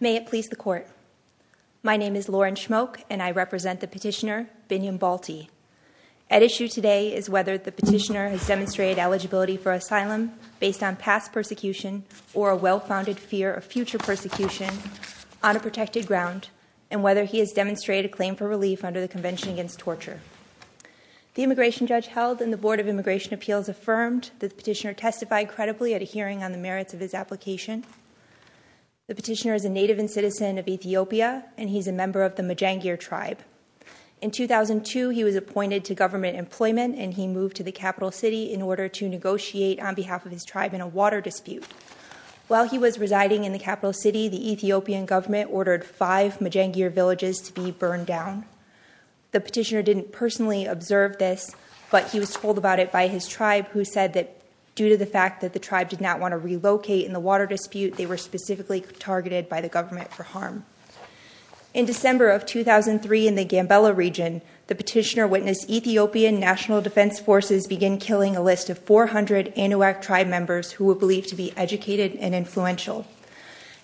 May it please the Court. My name is Lauren Schmoke and I represent the petitioner, Binyam Baltti. At issue today is whether the petitioner has demonstrated eligibility for asylum based on past persecution or a well-founded fear of future persecution on a protected ground and whether he has demonstrated a claim for relief under the Convention Against Torture. The immigration judge held and the Board of Immigration Appeals affirmed that the petitioner testified credibly at a hearing on the merits of his application. The petitioner is a native and citizen of Ethiopia and he's a member of the Majangir tribe. In 2002, he was appointed to government employment and he moved to the capital city in order to negotiate on behalf of his tribe in a water dispute. While he was residing in the capital city, the Ethiopian government ordered five Majangir villages to be burned down. The petitioner didn't personally observe this but he was told about it by his tribe who said that due to the fact that the tribe did not want to relocate in the water dispute, they were specifically targeted by the government for harm. In December of 2003 in the Gambela region, the petitioner witnessed Ethiopian National Defense Forces begin killing a list of 400 Inuak tribe members who were believed to be educated and influential.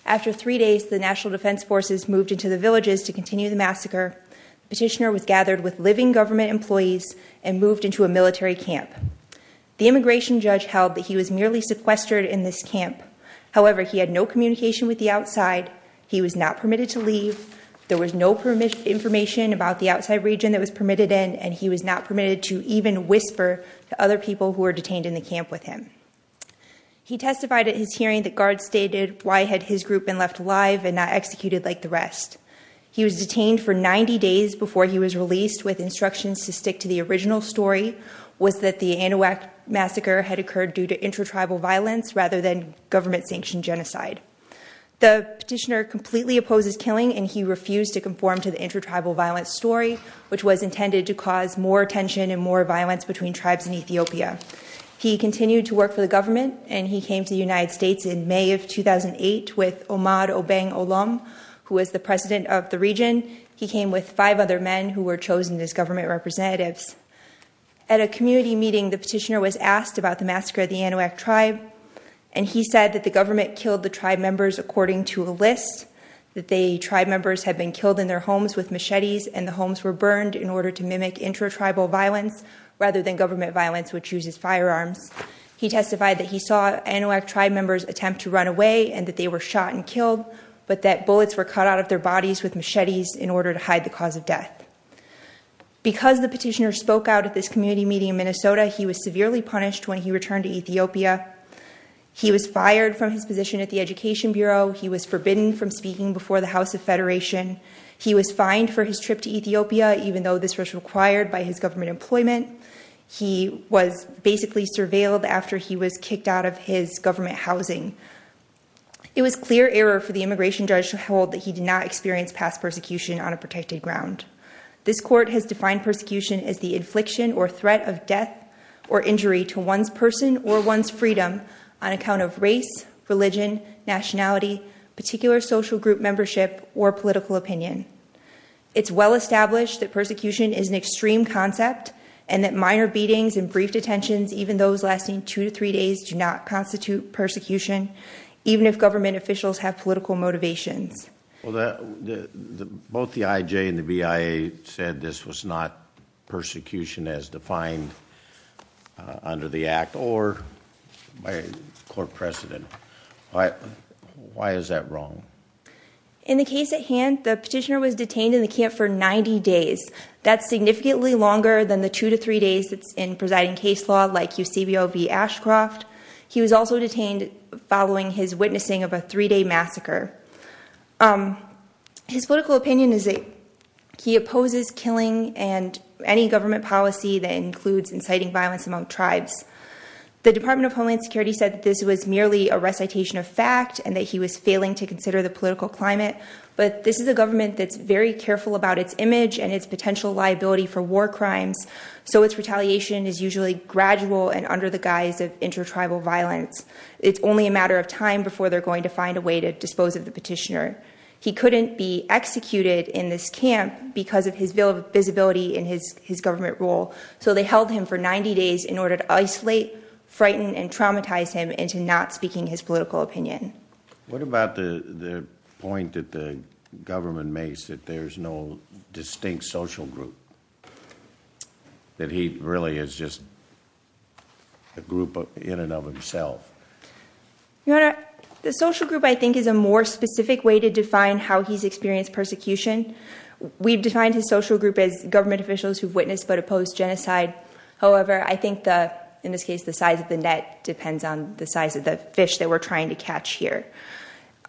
After three days, the National Defense Forces moved into the petitioner was gathered with living government employees and moved into a military camp. The immigration judge held that he was merely sequestered in this camp. However, he had no communication with the outside. He was not permitted to leave. There was no information about the outside region that was permitted in and he was not permitted to even whisper to other people who were detained in the camp with him. He testified at his hearing that guards stated why had his group been left alive and not executed like the rest. He was detained for 90 days before he was released with instructions to stick to the original story was that the Inuak massacre had occurred due to intra-tribal violence rather than government-sanctioned genocide. The petitioner completely opposes killing and he refused to conform to the intra-tribal violence story which was intended to cause more tension and more violence between tribes in Ethiopia. He continued to work for the government and he came to the was the president of the region. He came with five other men who were chosen as government representatives. At a community meeting, the petitioner was asked about the massacre of the Inuak tribe and he said that the government killed the tribe members according to a list, that the tribe members had been killed in their homes with machetes and the homes were burned in order to mimic intra-tribal violence rather than government violence which uses firearms. He testified that he saw Inuak tribe members attempt to run away and that they were shot and cut out of their bodies with machetes in order to hide the cause of death. Because the petitioner spoke out at this community meeting in Minnesota, he was severely punished when he returned to Ethiopia. He was fired from his position at the Education Bureau. He was forbidden from speaking before the House of Federation. He was fined for his trip to Ethiopia even though this was required by his government employment. He was basically surveilled after he was kicked out of his government housing. It was clear error for the immigration judge to hold that he did not experience past persecution on a protected ground. This court has defined persecution as the infliction or threat of death or injury to one's person or one's freedom on account of race, religion, nationality, particular social group membership, or political opinion. It's well established that persecution is an extreme concept and that minor beatings and brief detentions, even those lasting two to three days, do not constitute persecution even if government officials have political motivations. Both the IJ and the BIA said this was not persecution as defined under the act or by court precedent. Why is that wrong? In the case at hand, the petitioner was detained in the camp for 90 days. That's significantly longer than the two to three days that's in presiding case law like UCBO v. Ashcroft. He was also detained following his witnessing of a three-day massacre. His political opinion is that he opposes killing and any government policy that includes inciting violence among tribes. The Department of Homeland Security said that this was merely a recitation of fact and that he was failing to consider the political climate, but this is a government that's very careful about its image and its potential liability for war crimes, so its retaliation is usually gradual and under the guise of intertribal violence. It's only a matter of time before they're going to find a way to dispose of the petitioner. He couldn't be executed in this camp because of his visibility in his government role, so they held him for 90 days in order to isolate, frighten, and traumatize him into not speaking his political opinion. What about the point that the government makes that there's no distinct social group? That he really is just a group in and of himself? Your Honor, the social group I think is a more specific way to define how he's experienced persecution. We've defined his social group as government officials who've witnessed but opposed genocide. However, I think in this case the size of the net depends on the size of the fish that we're trying to catch here.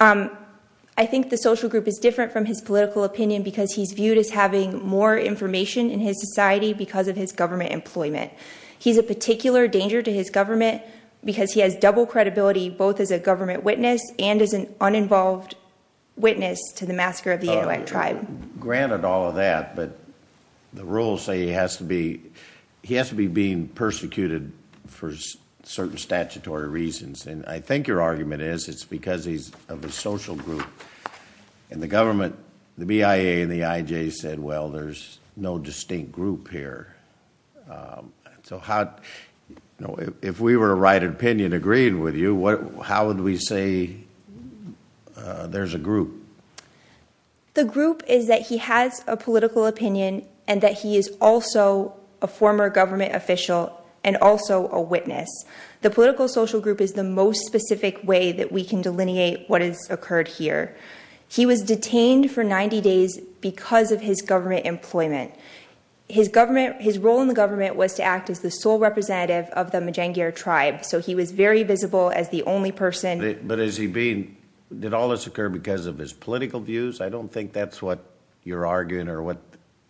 I think the social group is different from his political opinion because he's viewed as having more information in his society because of his government employment. He's a particular danger to his government because he has double credibility both as a government witness and as an uninvolved witness to the massacre of the Inuit tribe. Granted all of that, but the rules say he has to be being persecuted for certain statutory reasons, and I think your argument is it's because he's of a social group and the government, the BIA and the IJ said, well, there's no distinct group here. If we were to write an opinion agreeing with you, how would we say there's a group? The group is that he has a political opinion and that he is also a former government official and also a witness. The political social group is the most specific way that we can delineate what has occurred here. He was detained for 90 days because of his government employment. His role in the government was to act as the sole representative of the Majangir tribe, so he was very visible as the only person. But is he being, did all this occur because of his political views? I don't think that's what you're arguing or what.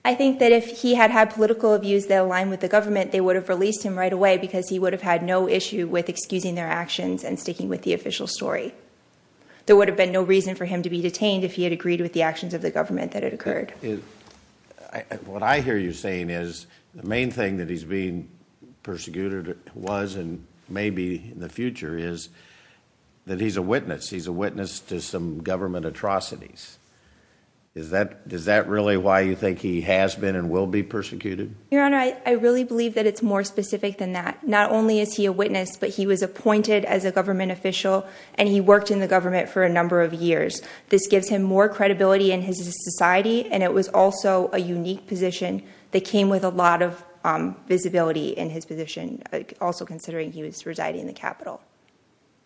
I think that if he had had political views that align with the government, they would have released him right away because he would have had no issue with excusing their actions and sticking with the official story. There would have been no reason for him to be detained if he had agreed with the actions of the government that had occurred. What I hear you saying is the main thing that he's being persecuted was and maybe in the future is that he's a witness. He's a witness to some government atrocities. Is that really why you think he has been and will be persecuted? Your Honor, I really believe that it's more specific than that. Not only is he a witness, but he was appointed as a government official and he worked in the government for a number of years. This gives him more credibility in his society and it was also a unique position that came with a lot of visibility in his position, also considering he was residing in the capital.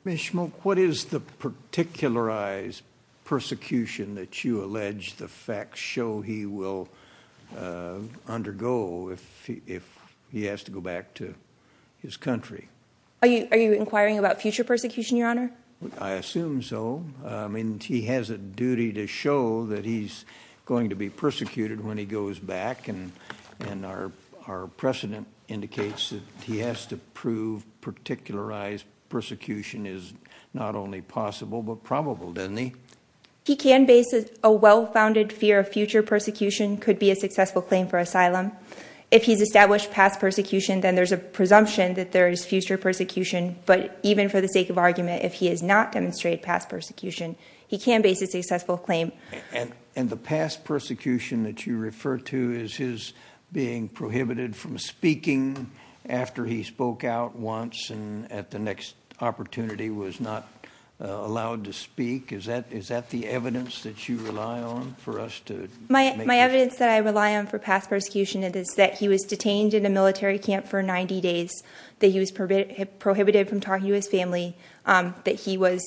Ms. Shmook, what is the particularized persecution that you allege the facts show he will undergo if he has to go back to his country? Are you inquiring about future persecution, Your Honor? I assume so. I mean, he has a duty to show that he's going to be persecuted when he goes back and our precedent indicates that he has to prove particularized persecution is not only possible but probable, doesn't he? He can base a well-founded fear of future persecution could be a successful claim for asylum. If he's established past persecution, then there's a presumption that there is future persecution. But even for the sake of argument, if he has not demonstrated past persecution, he can base a successful claim. And the past persecution that you refer to is his being prohibited from speaking after he spoke out once and at the next opportunity was not allowed to speak. Is that the evidence that you rely on for us? My evidence that I rely on for past persecution is that he was detained in a military camp for 90 days, that he was prohibited from talking to his family, that he was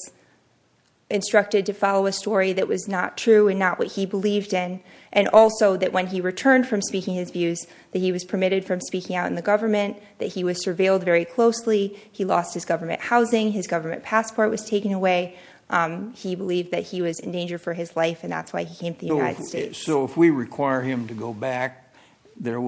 instructed to follow a story that was not true and not what he believed in, and also that when he returned from speaking his views, that he was permitted from speaking out in the government, that he was surveilled very closely. He lost his government housing. His was in danger for his life and that's why he came to the United States. So if we require him to go back, this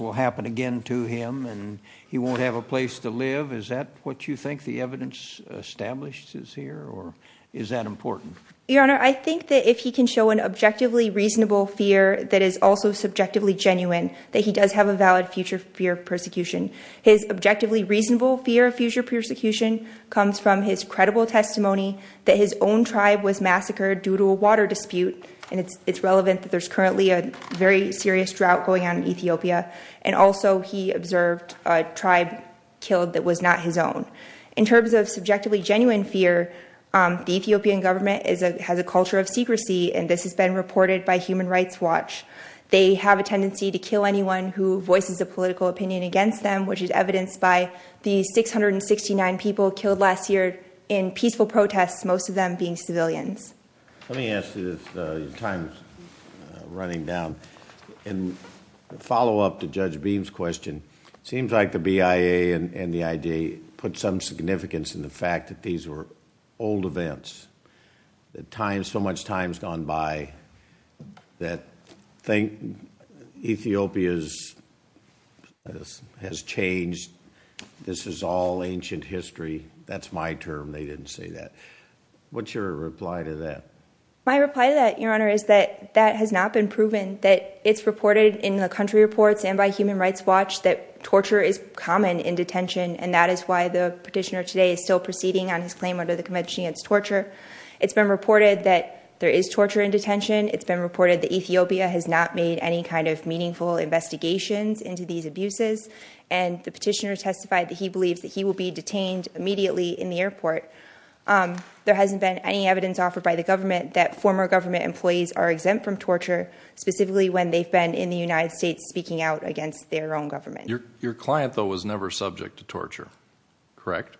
will happen again to him and he won't have a place to live? Is that what you think the evidence established is here or is that important? Your Honor, I think that if he can show an objectively reasonable fear that is also subjectively genuine, that he does have a valid future fear of persecution. His objectively reasonable fear of future persecution comes from his credible testimony that his own tribe was massacred due to a water dispute, and it's relevant that there's currently a very serious drought going on in Ethiopia, and also he observed a tribe killed that was not his own. In terms of subjectively genuine fear, the Ethiopian government has a culture of secrecy and this has been reported by Human Rights Watch. They have a tendency to kill anyone who voices a political opinion against them, which is evidenced by the 669 people killed last year in peaceful protests, most of them being civilians. Let me ask you this, your time's running down. In follow-up to Judge Beam's question, seems like the BIA and the IJ put some significance in the fact that these were old events. So much time has gone by that Ethiopia has changed. This is all ancient history. That's my term. They didn't say that. What's your reply to that? My reply to that, your Honor, is that that has not been proven. That it's reported in the country reports and by Human Rights Watch that torture is common in detention, and that is why the petitioner is still proceeding on his claim under the Convention Against Torture. It's been reported that there is torture in detention. It's been reported that Ethiopia has not made any kind of meaningful investigations into these abuses, and the petitioner testified that he believes that he will be detained immediately in the airport. There hasn't been any evidence offered by the government that former government employees are exempt from torture, specifically when they've been in the United States speaking out against their own government. Your client, though, was never subject to torture, correct?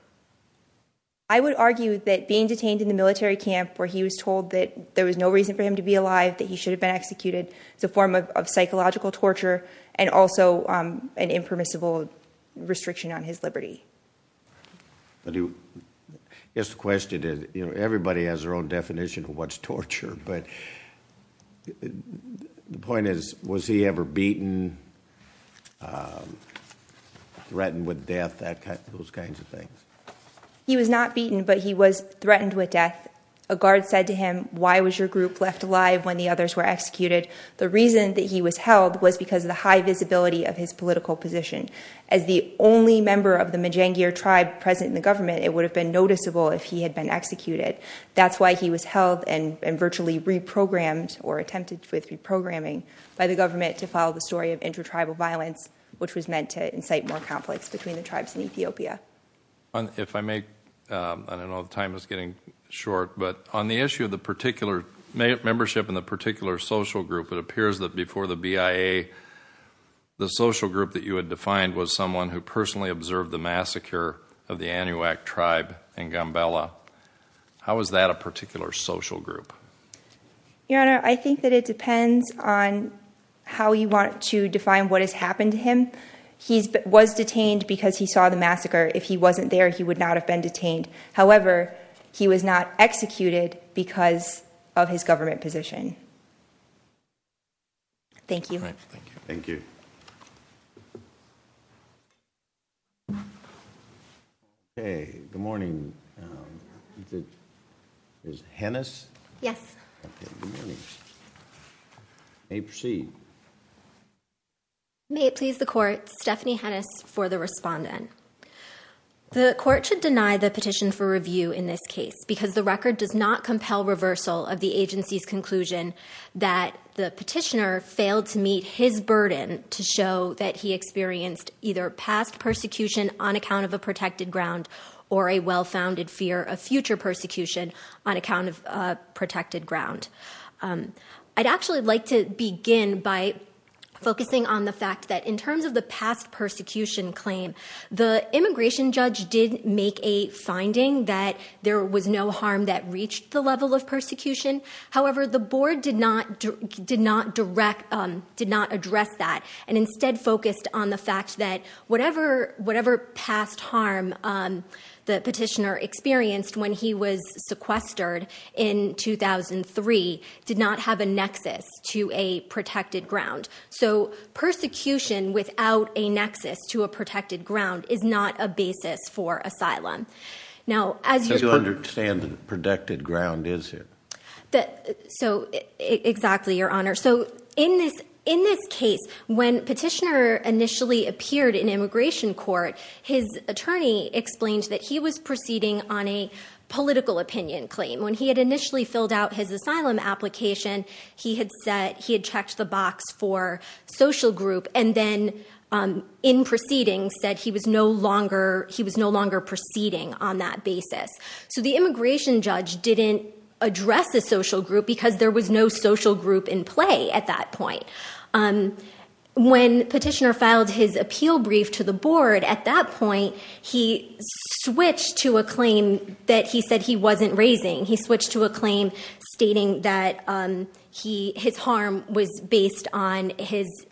I would argue that being detained in the military camp where he was told that there was no reason for him to be alive, that he should have been executed, is a form of psychological torture and also an impermissible restriction on his liberty. Yes, the question is, you know, everybody has their own definition of what's torture, but the point is, was he ever beaten, threatened with death, those kinds of things? He was not beaten, but he was threatened with death. A guard said to him, why was your group left alive when the others were executed? The reason that he was held was because of the high visibility of his political position. As the only member of the Majangir tribe present in the government, it would have been noticeable if he had been executed. That's why he was held and virtually reprogrammed or attempted with reprogramming by the government to follow the story of intertribal violence, which was meant to incite more conflicts between the tribes in Ethiopia. If I may, I don't know, time is getting short, but on the issue of the particular membership in the particular social group, it appears that before the BIA, the social group that you had defined was someone who personally observed the massacre of the Anuak tribe in Gambela. How is that a particular social group? Your Honor, I think that it depends on how you want to define what has happened to him. He was detained because he saw the massacre. If he wasn't there, he would not have been detained. However, he was not executed because of his government position. Thank you. Thank you. Okay. Good morning. Is this Hennis? Yes. May it please the Court, Stephanie Hennis for the respondent. The Court should deny the petition for review in this case because the record does not compel reversal of the agency's conclusion that the petitioner failed to meet his burden to show that he experienced either past persecution on account of a protected ground or a well-founded fear of future persecution on account of protected ground. I'd actually like to begin by focusing on the fact that in terms of the past persecution claim, the immigration judge did make a finding that there was no harm that reached the level of persecution. However, the Board did not address that and instead focused on the fact that whatever past harm the petitioner experienced when he was sequestered in 2003 did not have a nexus to a protected ground. So persecution without a nexus to a protected ground is not a basis for asylum. So you understand protected ground is it? Exactly, Your Honor. So in this case, when petitioner initially appeared in immigration court, his attorney explained that he was proceeding on a political opinion claim. When he had initially filled out his asylum application, he had checked the box for social group and then in proceeding said he was no longer proceeding on that basis. So the immigration judge didn't address the social group because there was no social group in play at that point. When petitioner filed his appeal brief to the Board at that point, he switched to a claim that he said he wasn't raising. He switched to a claim stating that his harm was based on his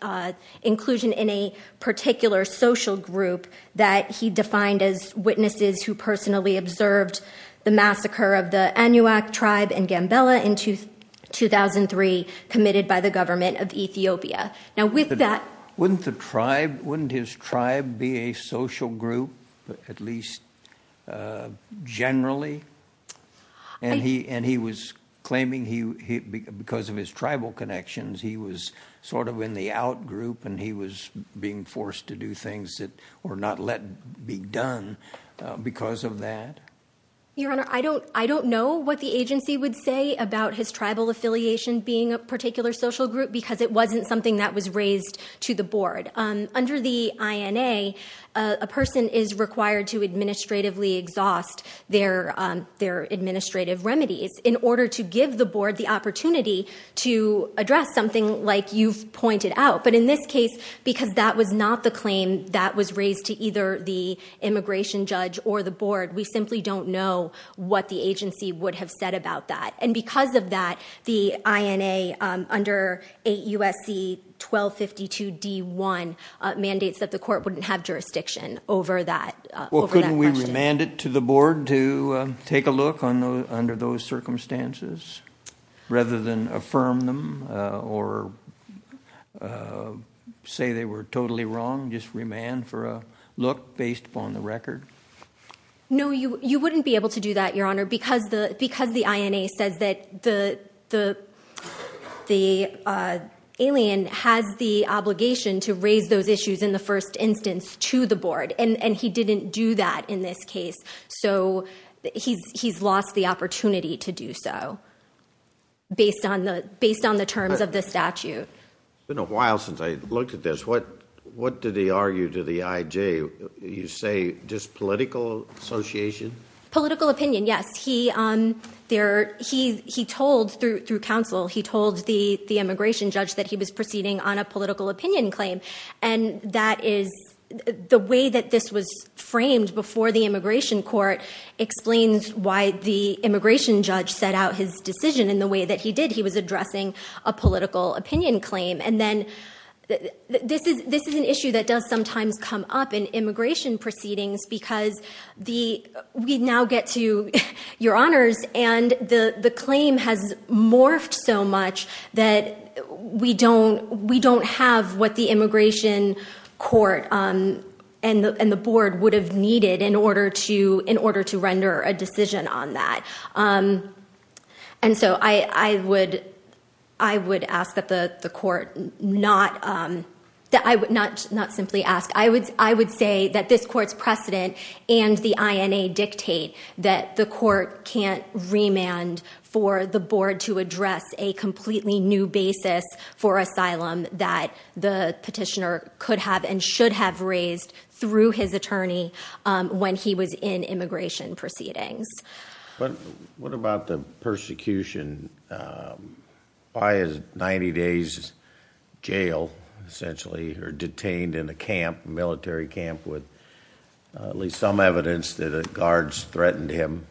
inclusion in a particular social group that he defined as witnesses who personally observed the massacre of the Anuak tribe in Gambela in 2003 committed by the government of Ethiopia. Now with that... Wouldn't the tribe, wouldn't his tribe be a social group at least generally? And he was claiming because of his tribal connections, he was sort of in the out group and he was being forced to do things that were not let be done because of that? Your Honor, I don't know what the agency would say about his tribal affiliation being a particular social group because it wasn't something that was raised to the Board. Under the INA, a person is required to administratively exhaust their administrative remedies in order to give the Board the opportunity to address something like you've pointed out. But in this case, because that was not the claim that was raised to either the immigration judge or the Board, we simply don't know what the agency would have said about that. And because of that, the INA, under 8 U.S.C. 1252 D.1 mandates that the Court wouldn't have jurisdiction over that question. Well, couldn't we remand it to the Board to take a look under those circumstances rather than affirm them or say they were totally wrong? Just remand for a look based upon the record? No, you wouldn't be able to do that, Your Honor, because the INA says that the the alien has the obligation to raise those issues in the first instance to the Board, and he didn't do that in this case. So he's lost the opportunity to do so based on the terms of the statute. It's been a while since I looked at this. What did he argue to the IJ? You say just political association? Political opinion, yes. He told through counsel, he told the immigration judge that he was proceeding on a political opinion claim. And that is the way that this was framed before the immigration court explains why the immigration judge set out his decision in the way that he did. He was addressing a political opinion claim. And then this is an issue that does sometimes come up in immigration proceedings because we now get to, Your Honors, and the claim has morphed so much that we don't have what the immigration court and the Board would have needed in order to render a decision on that. And so I would ask that the court not simply ask, I would say that this court's precedent and the INA dictate that the court can't remand for the Board to address a completely new basis for asylum that the petitioner could have and should have raised through his attorney when he was in immigration proceedings. But what about the persecution? Why is 90 Days Jail essentially detained in a camp, military camp, with at least some evidence that guards threatened him?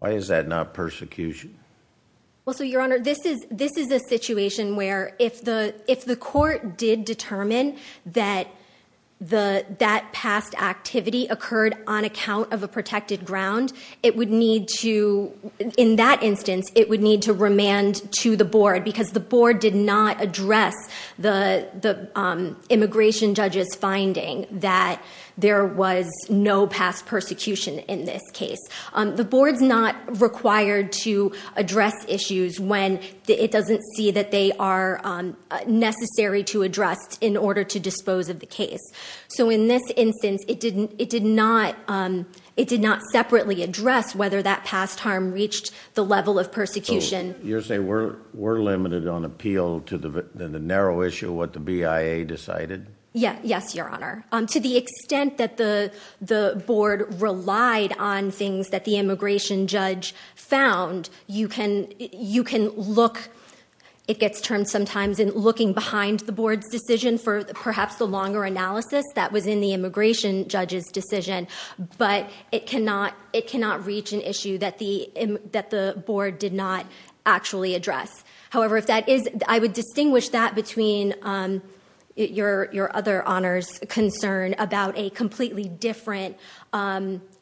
Why is that not persecution? Well, so, Your Honor, this is a situation where if the court did on account of a protected ground, it would need to, in that instance, it would need to remand to the Board because the Board did not address the immigration judge's finding that there was no past persecution in this case. The Board's not required to address issues when it doesn't see that they are necessary to address in order to dispose of the case. So in this instance, it did not separately address whether that past harm reached the level of persecution. You're saying we're limited on appeal to the narrow issue of what the BIA decided? Yeah, yes, Your Honor. To the extent that the Board relied on things that the immigration judge found, you can look, it gets termed sometimes in looking behind the Board's decision for perhaps the longer analysis that was in the immigration judge's decision, but it cannot reach an issue that the Board did not actually address. However, if that is, I would distinguish that between your other Honor's concern about a completely different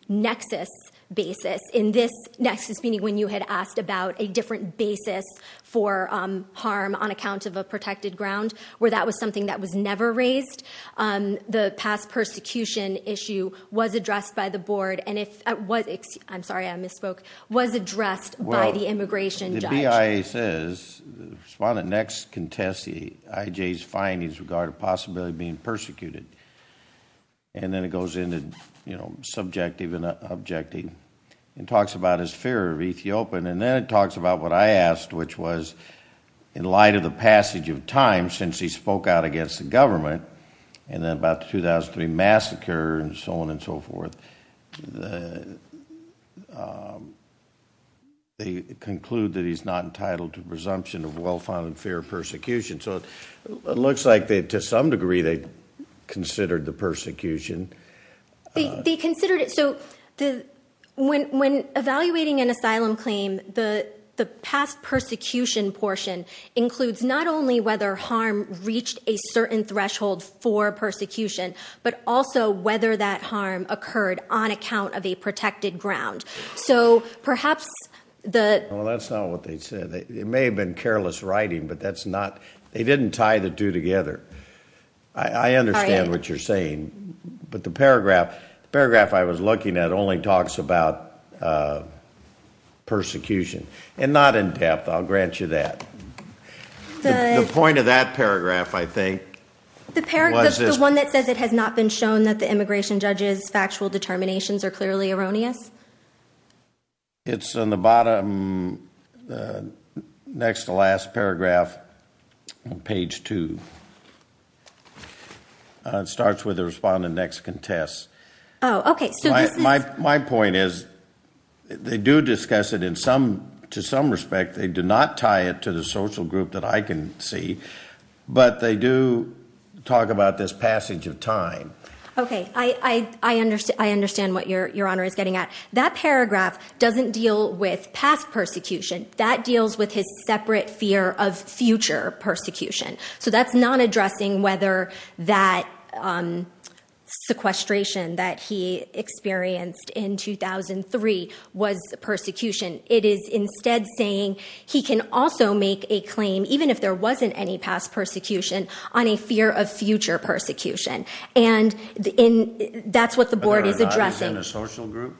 nexus basis. In this nexus, meaning when you had asked about a different basis for harm on account of a protected ground, where that was something that was never raised, the past persecution issue was addressed by the Board, and if it was, I'm sorry, I misspoke, was addressed by the immigration judge. The BIA says, the respondent next contests the IJ's findings regarding the possibility of being persecuted, and then it goes into, you know, subjective and objective, and talks about his fear of Ethiopia, and then it talks about what I asked, which was in light of the passage of time since he spoke out against the government, and then about the 2003 massacre, and so on and so on, entitled to presumption of well-founded fear of persecution. So it looks like they, to some degree, they considered the persecution. They considered it, so when evaluating an asylum claim, the past persecution portion includes not only whether harm reached a certain threshold for persecution, but also whether that harm occurred on account of a protected ground. So perhaps the- Well, that's not what they said. It may have been careless writing, but that's not, they didn't tie the two together. I understand what you're saying, but the paragraph I was looking at only talks about persecution, and not in depth, I'll grant you that. The point of that paragraph, I think- The paragraph, the one that says it has not been shown that the immigration judge's It's on the bottom, next to last paragraph, on page two. It starts with the respondent next contests. Oh, okay, so this is- My point is, they do discuss it in some, to some respect, they do not tie it to the social group that I can see, but they do talk about this passage of time. Okay, I understand what Your Honor is getting at. That paragraph doesn't deal with past persecution, that deals with his separate fear of future persecution. So that's not addressing whether that sequestration that he experienced in 2003 was persecution. It is instead saying he can also make a claim, even if there wasn't any past persecution, on a fear of future persecution. And that's what the board is addressing. Whether or not he's in a social group?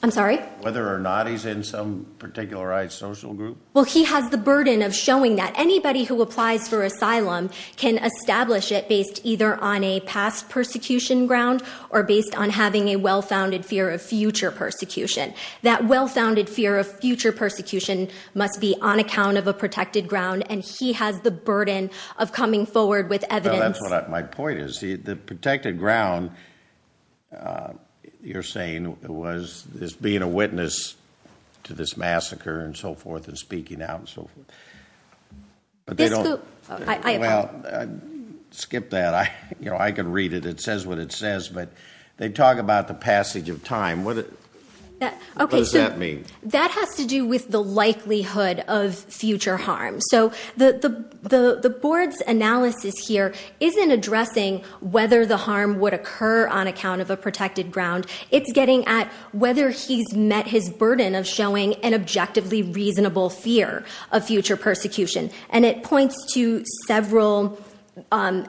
I'm sorry? Whether or not he's in some particularized social group? Well, he has the burden of showing that anybody who applies for asylum can establish it based either on a past persecution ground, or based on having a well-founded fear of future persecution. That well-founded fear of future persecution must be on account of a protected ground, and he has the burden of coming forward with evidence- My point is, the protected ground you're saying is being a witness to this massacre and so forth, and speaking out and so forth. Well, skip that. I could read it. It says what it says, but they talk about the passage of time. What does that mean? That has to do with the likelihood of future harm. So, the board's analysis here isn't addressing whether the harm would occur on account of a protected ground. It's getting at whether he's met his burden of showing an objectively reasonable fear of future persecution. And it points to several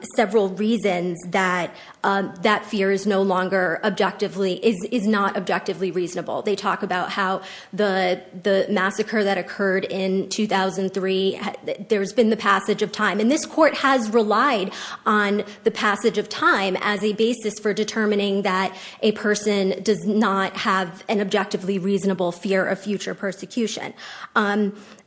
reasons that that fear is no longer objectively- is not objectively reasonable. They talk about how the massacre that occurred in 2003, there's been the passage of time. And this court has relied on the passage of time as a basis for determining that a person does not have an objectively reasonable fear of future persecution.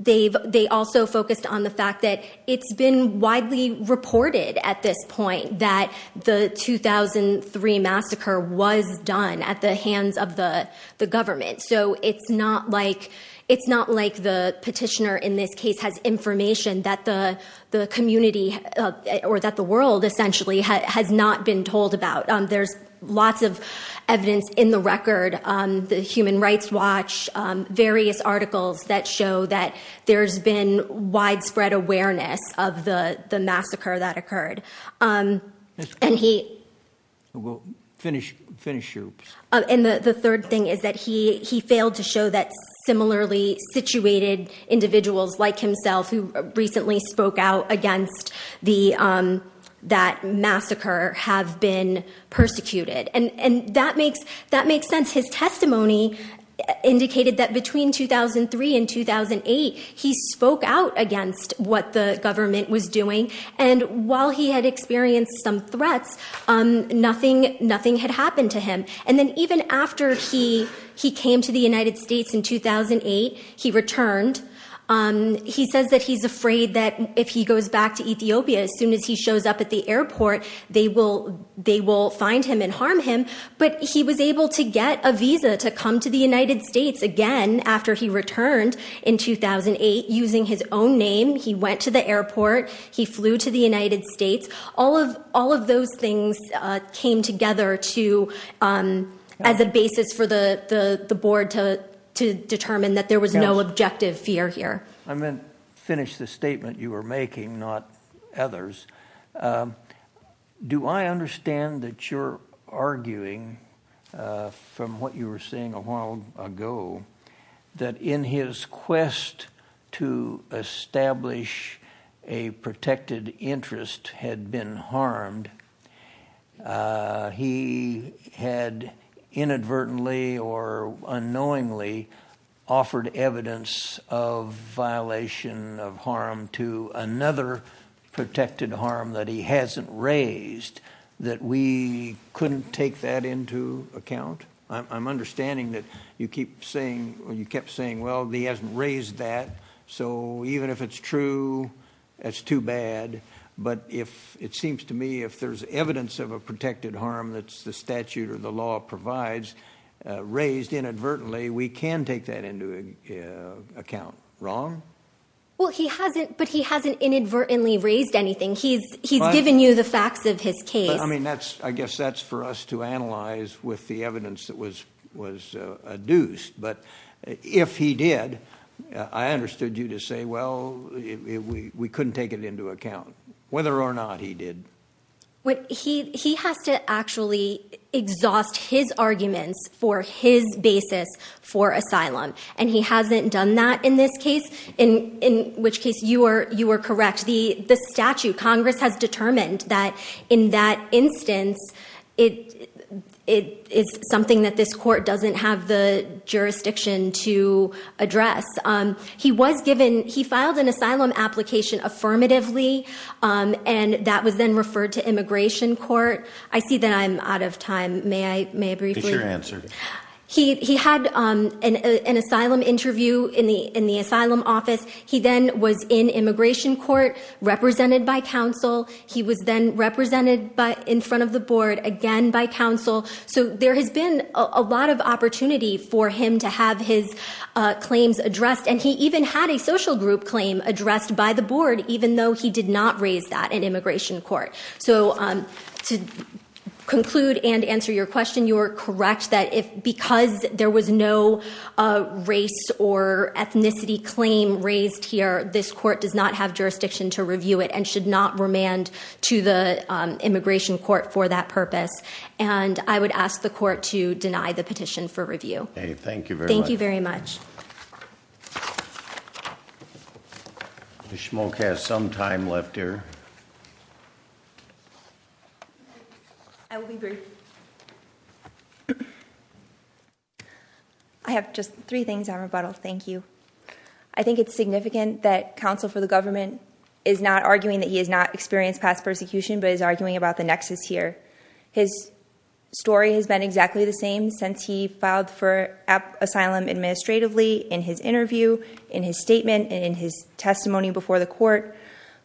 They also focused on the fact that it's been widely reported at this point that the 2003 massacre was done at the hands of the government. So, it's not like the petitioner in this case has information that the community or that the world essentially has not been told about. There's lots of evidence in the record, the Human Rights Watch, various articles that show that there's been widespread awareness of the he failed to show that similarly situated individuals like himself who recently spoke out against that massacre have been persecuted. And that makes sense. His testimony indicated that between 2003 and 2008, he spoke out against what the government was doing. And while he had come to the United States in 2008, he returned. He says that he's afraid that if he goes back to Ethiopia, as soon as he shows up at the airport, they will find him and harm him. But he was able to get a visa to come to the United States again after he returned in 2008. Using his own name, he went to the airport. He flew to the United States. All of those things came together as a board to determine that there was no objective fear here. I meant to finish the statement you were making, not others. Do I understand that you're arguing from what you were saying a while ago that in his quest to establish a protected interest had been harmed, he had inadvertently or unknowingly offered evidence of violation of harm to another protected harm that he hasn't raised, that we couldn't take that into account? I'm understanding that you keep saying or you kept saying, well, he hasn't raised that. So even if it's true, that's too bad. But if it seems to me if there's evidence of a protected harm that's the statute or the law provides, raised inadvertently, we can take that into account. Wrong? Well, he hasn't. But he hasn't inadvertently raised anything. He's given you the facts of his case. I mean, that's I guess that's for us to analyze with the evidence that was adduced. But if he did, I understood you to say, well, we couldn't take it into account, whether or not he did. He has to actually exhaust his arguments for his basis for asylum, and he hasn't done that in this case, in which case you are correct. The statute, Congress has determined that in that instance, it is something that this court doesn't have the jurisdiction to address. He was given, he filed an asylum application affirmatively, and that was then referred to immigration court. I see that I'm out of time. May I briefly? Get your answer. He had an asylum interview in the asylum office. He then was in immigration court, represented by counsel. He was then represented in front of the board again by counsel. So there has been a lot of opportunity for him to have his claims addressed. And he even had a social group claim addressed by the board, even though he did not raise that in immigration court. So to conclude and answer your question, you are correct that if because there was no race or ethnicity claim raised here, this court does not have jurisdiction to review it and should not remand to the immigration court for that purpose. And I would ask the court to deny the petition for review. Thank you very much. Ms. Schmolk has some time left here. I will be brief. I have just three things on rebuttal. Thank you. I think it's significant that counsel for the government is not arguing that he has not experienced past persecution, but is arguing about the nexus here. His story has been exactly the same since he filed for asylum administratively in his interview, in his statement, and in his testimony before the court.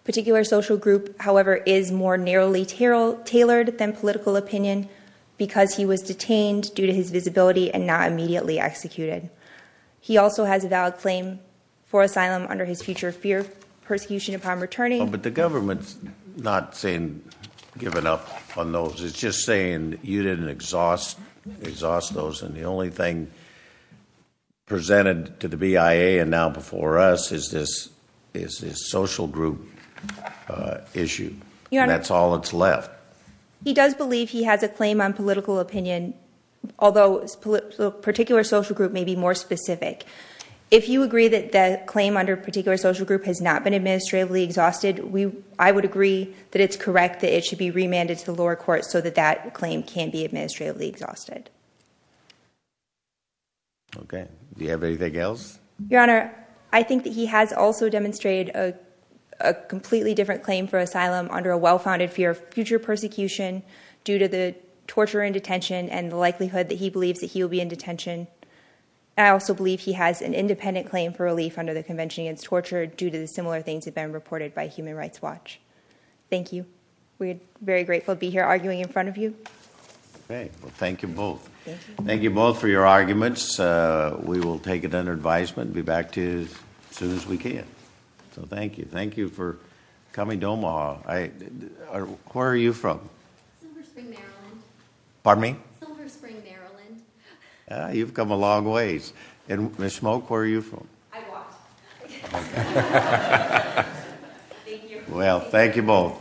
A particular social group, however, is more narrowly tailored than political opinion. So I think it's important because he was detained due to his visibility and not immediately executed. He also has a valid claim for asylum under his future fear of persecution upon returning. But the government's not saying given up on those. It's just saying you didn't exhaust those. And the only thing presented to the BIA and now before us is this social group issue. That's all that's left. He does believe he has a claim on political opinion, although a particular social group may be more specific. If you agree that the claim under a particular social group has not been administratively exhausted, I would agree that it's correct that it should be remanded to the lower court so that that claim can be administratively exhausted. Okay. Do you have anything else? Your Honor, I think that he has also demonstrated a well-founded fear of future persecution due to the torture in detention and the likelihood that he believes that he will be in detention. I also believe he has an independent claim for relief under the Convention Against Torture due to the similar things have been reported by Human Rights Watch. Thank you. We're very grateful to be here arguing in front of you. Okay. Well, thank you both. Thank you both for your arguments. We will take it under advisement and be back to you as where are you from? Silver Spring, Maryland. Pardon me? Silver Spring, Maryland. You've come a long ways. Ms. Schmoke, where are you from? I've walked. Well, thank you both.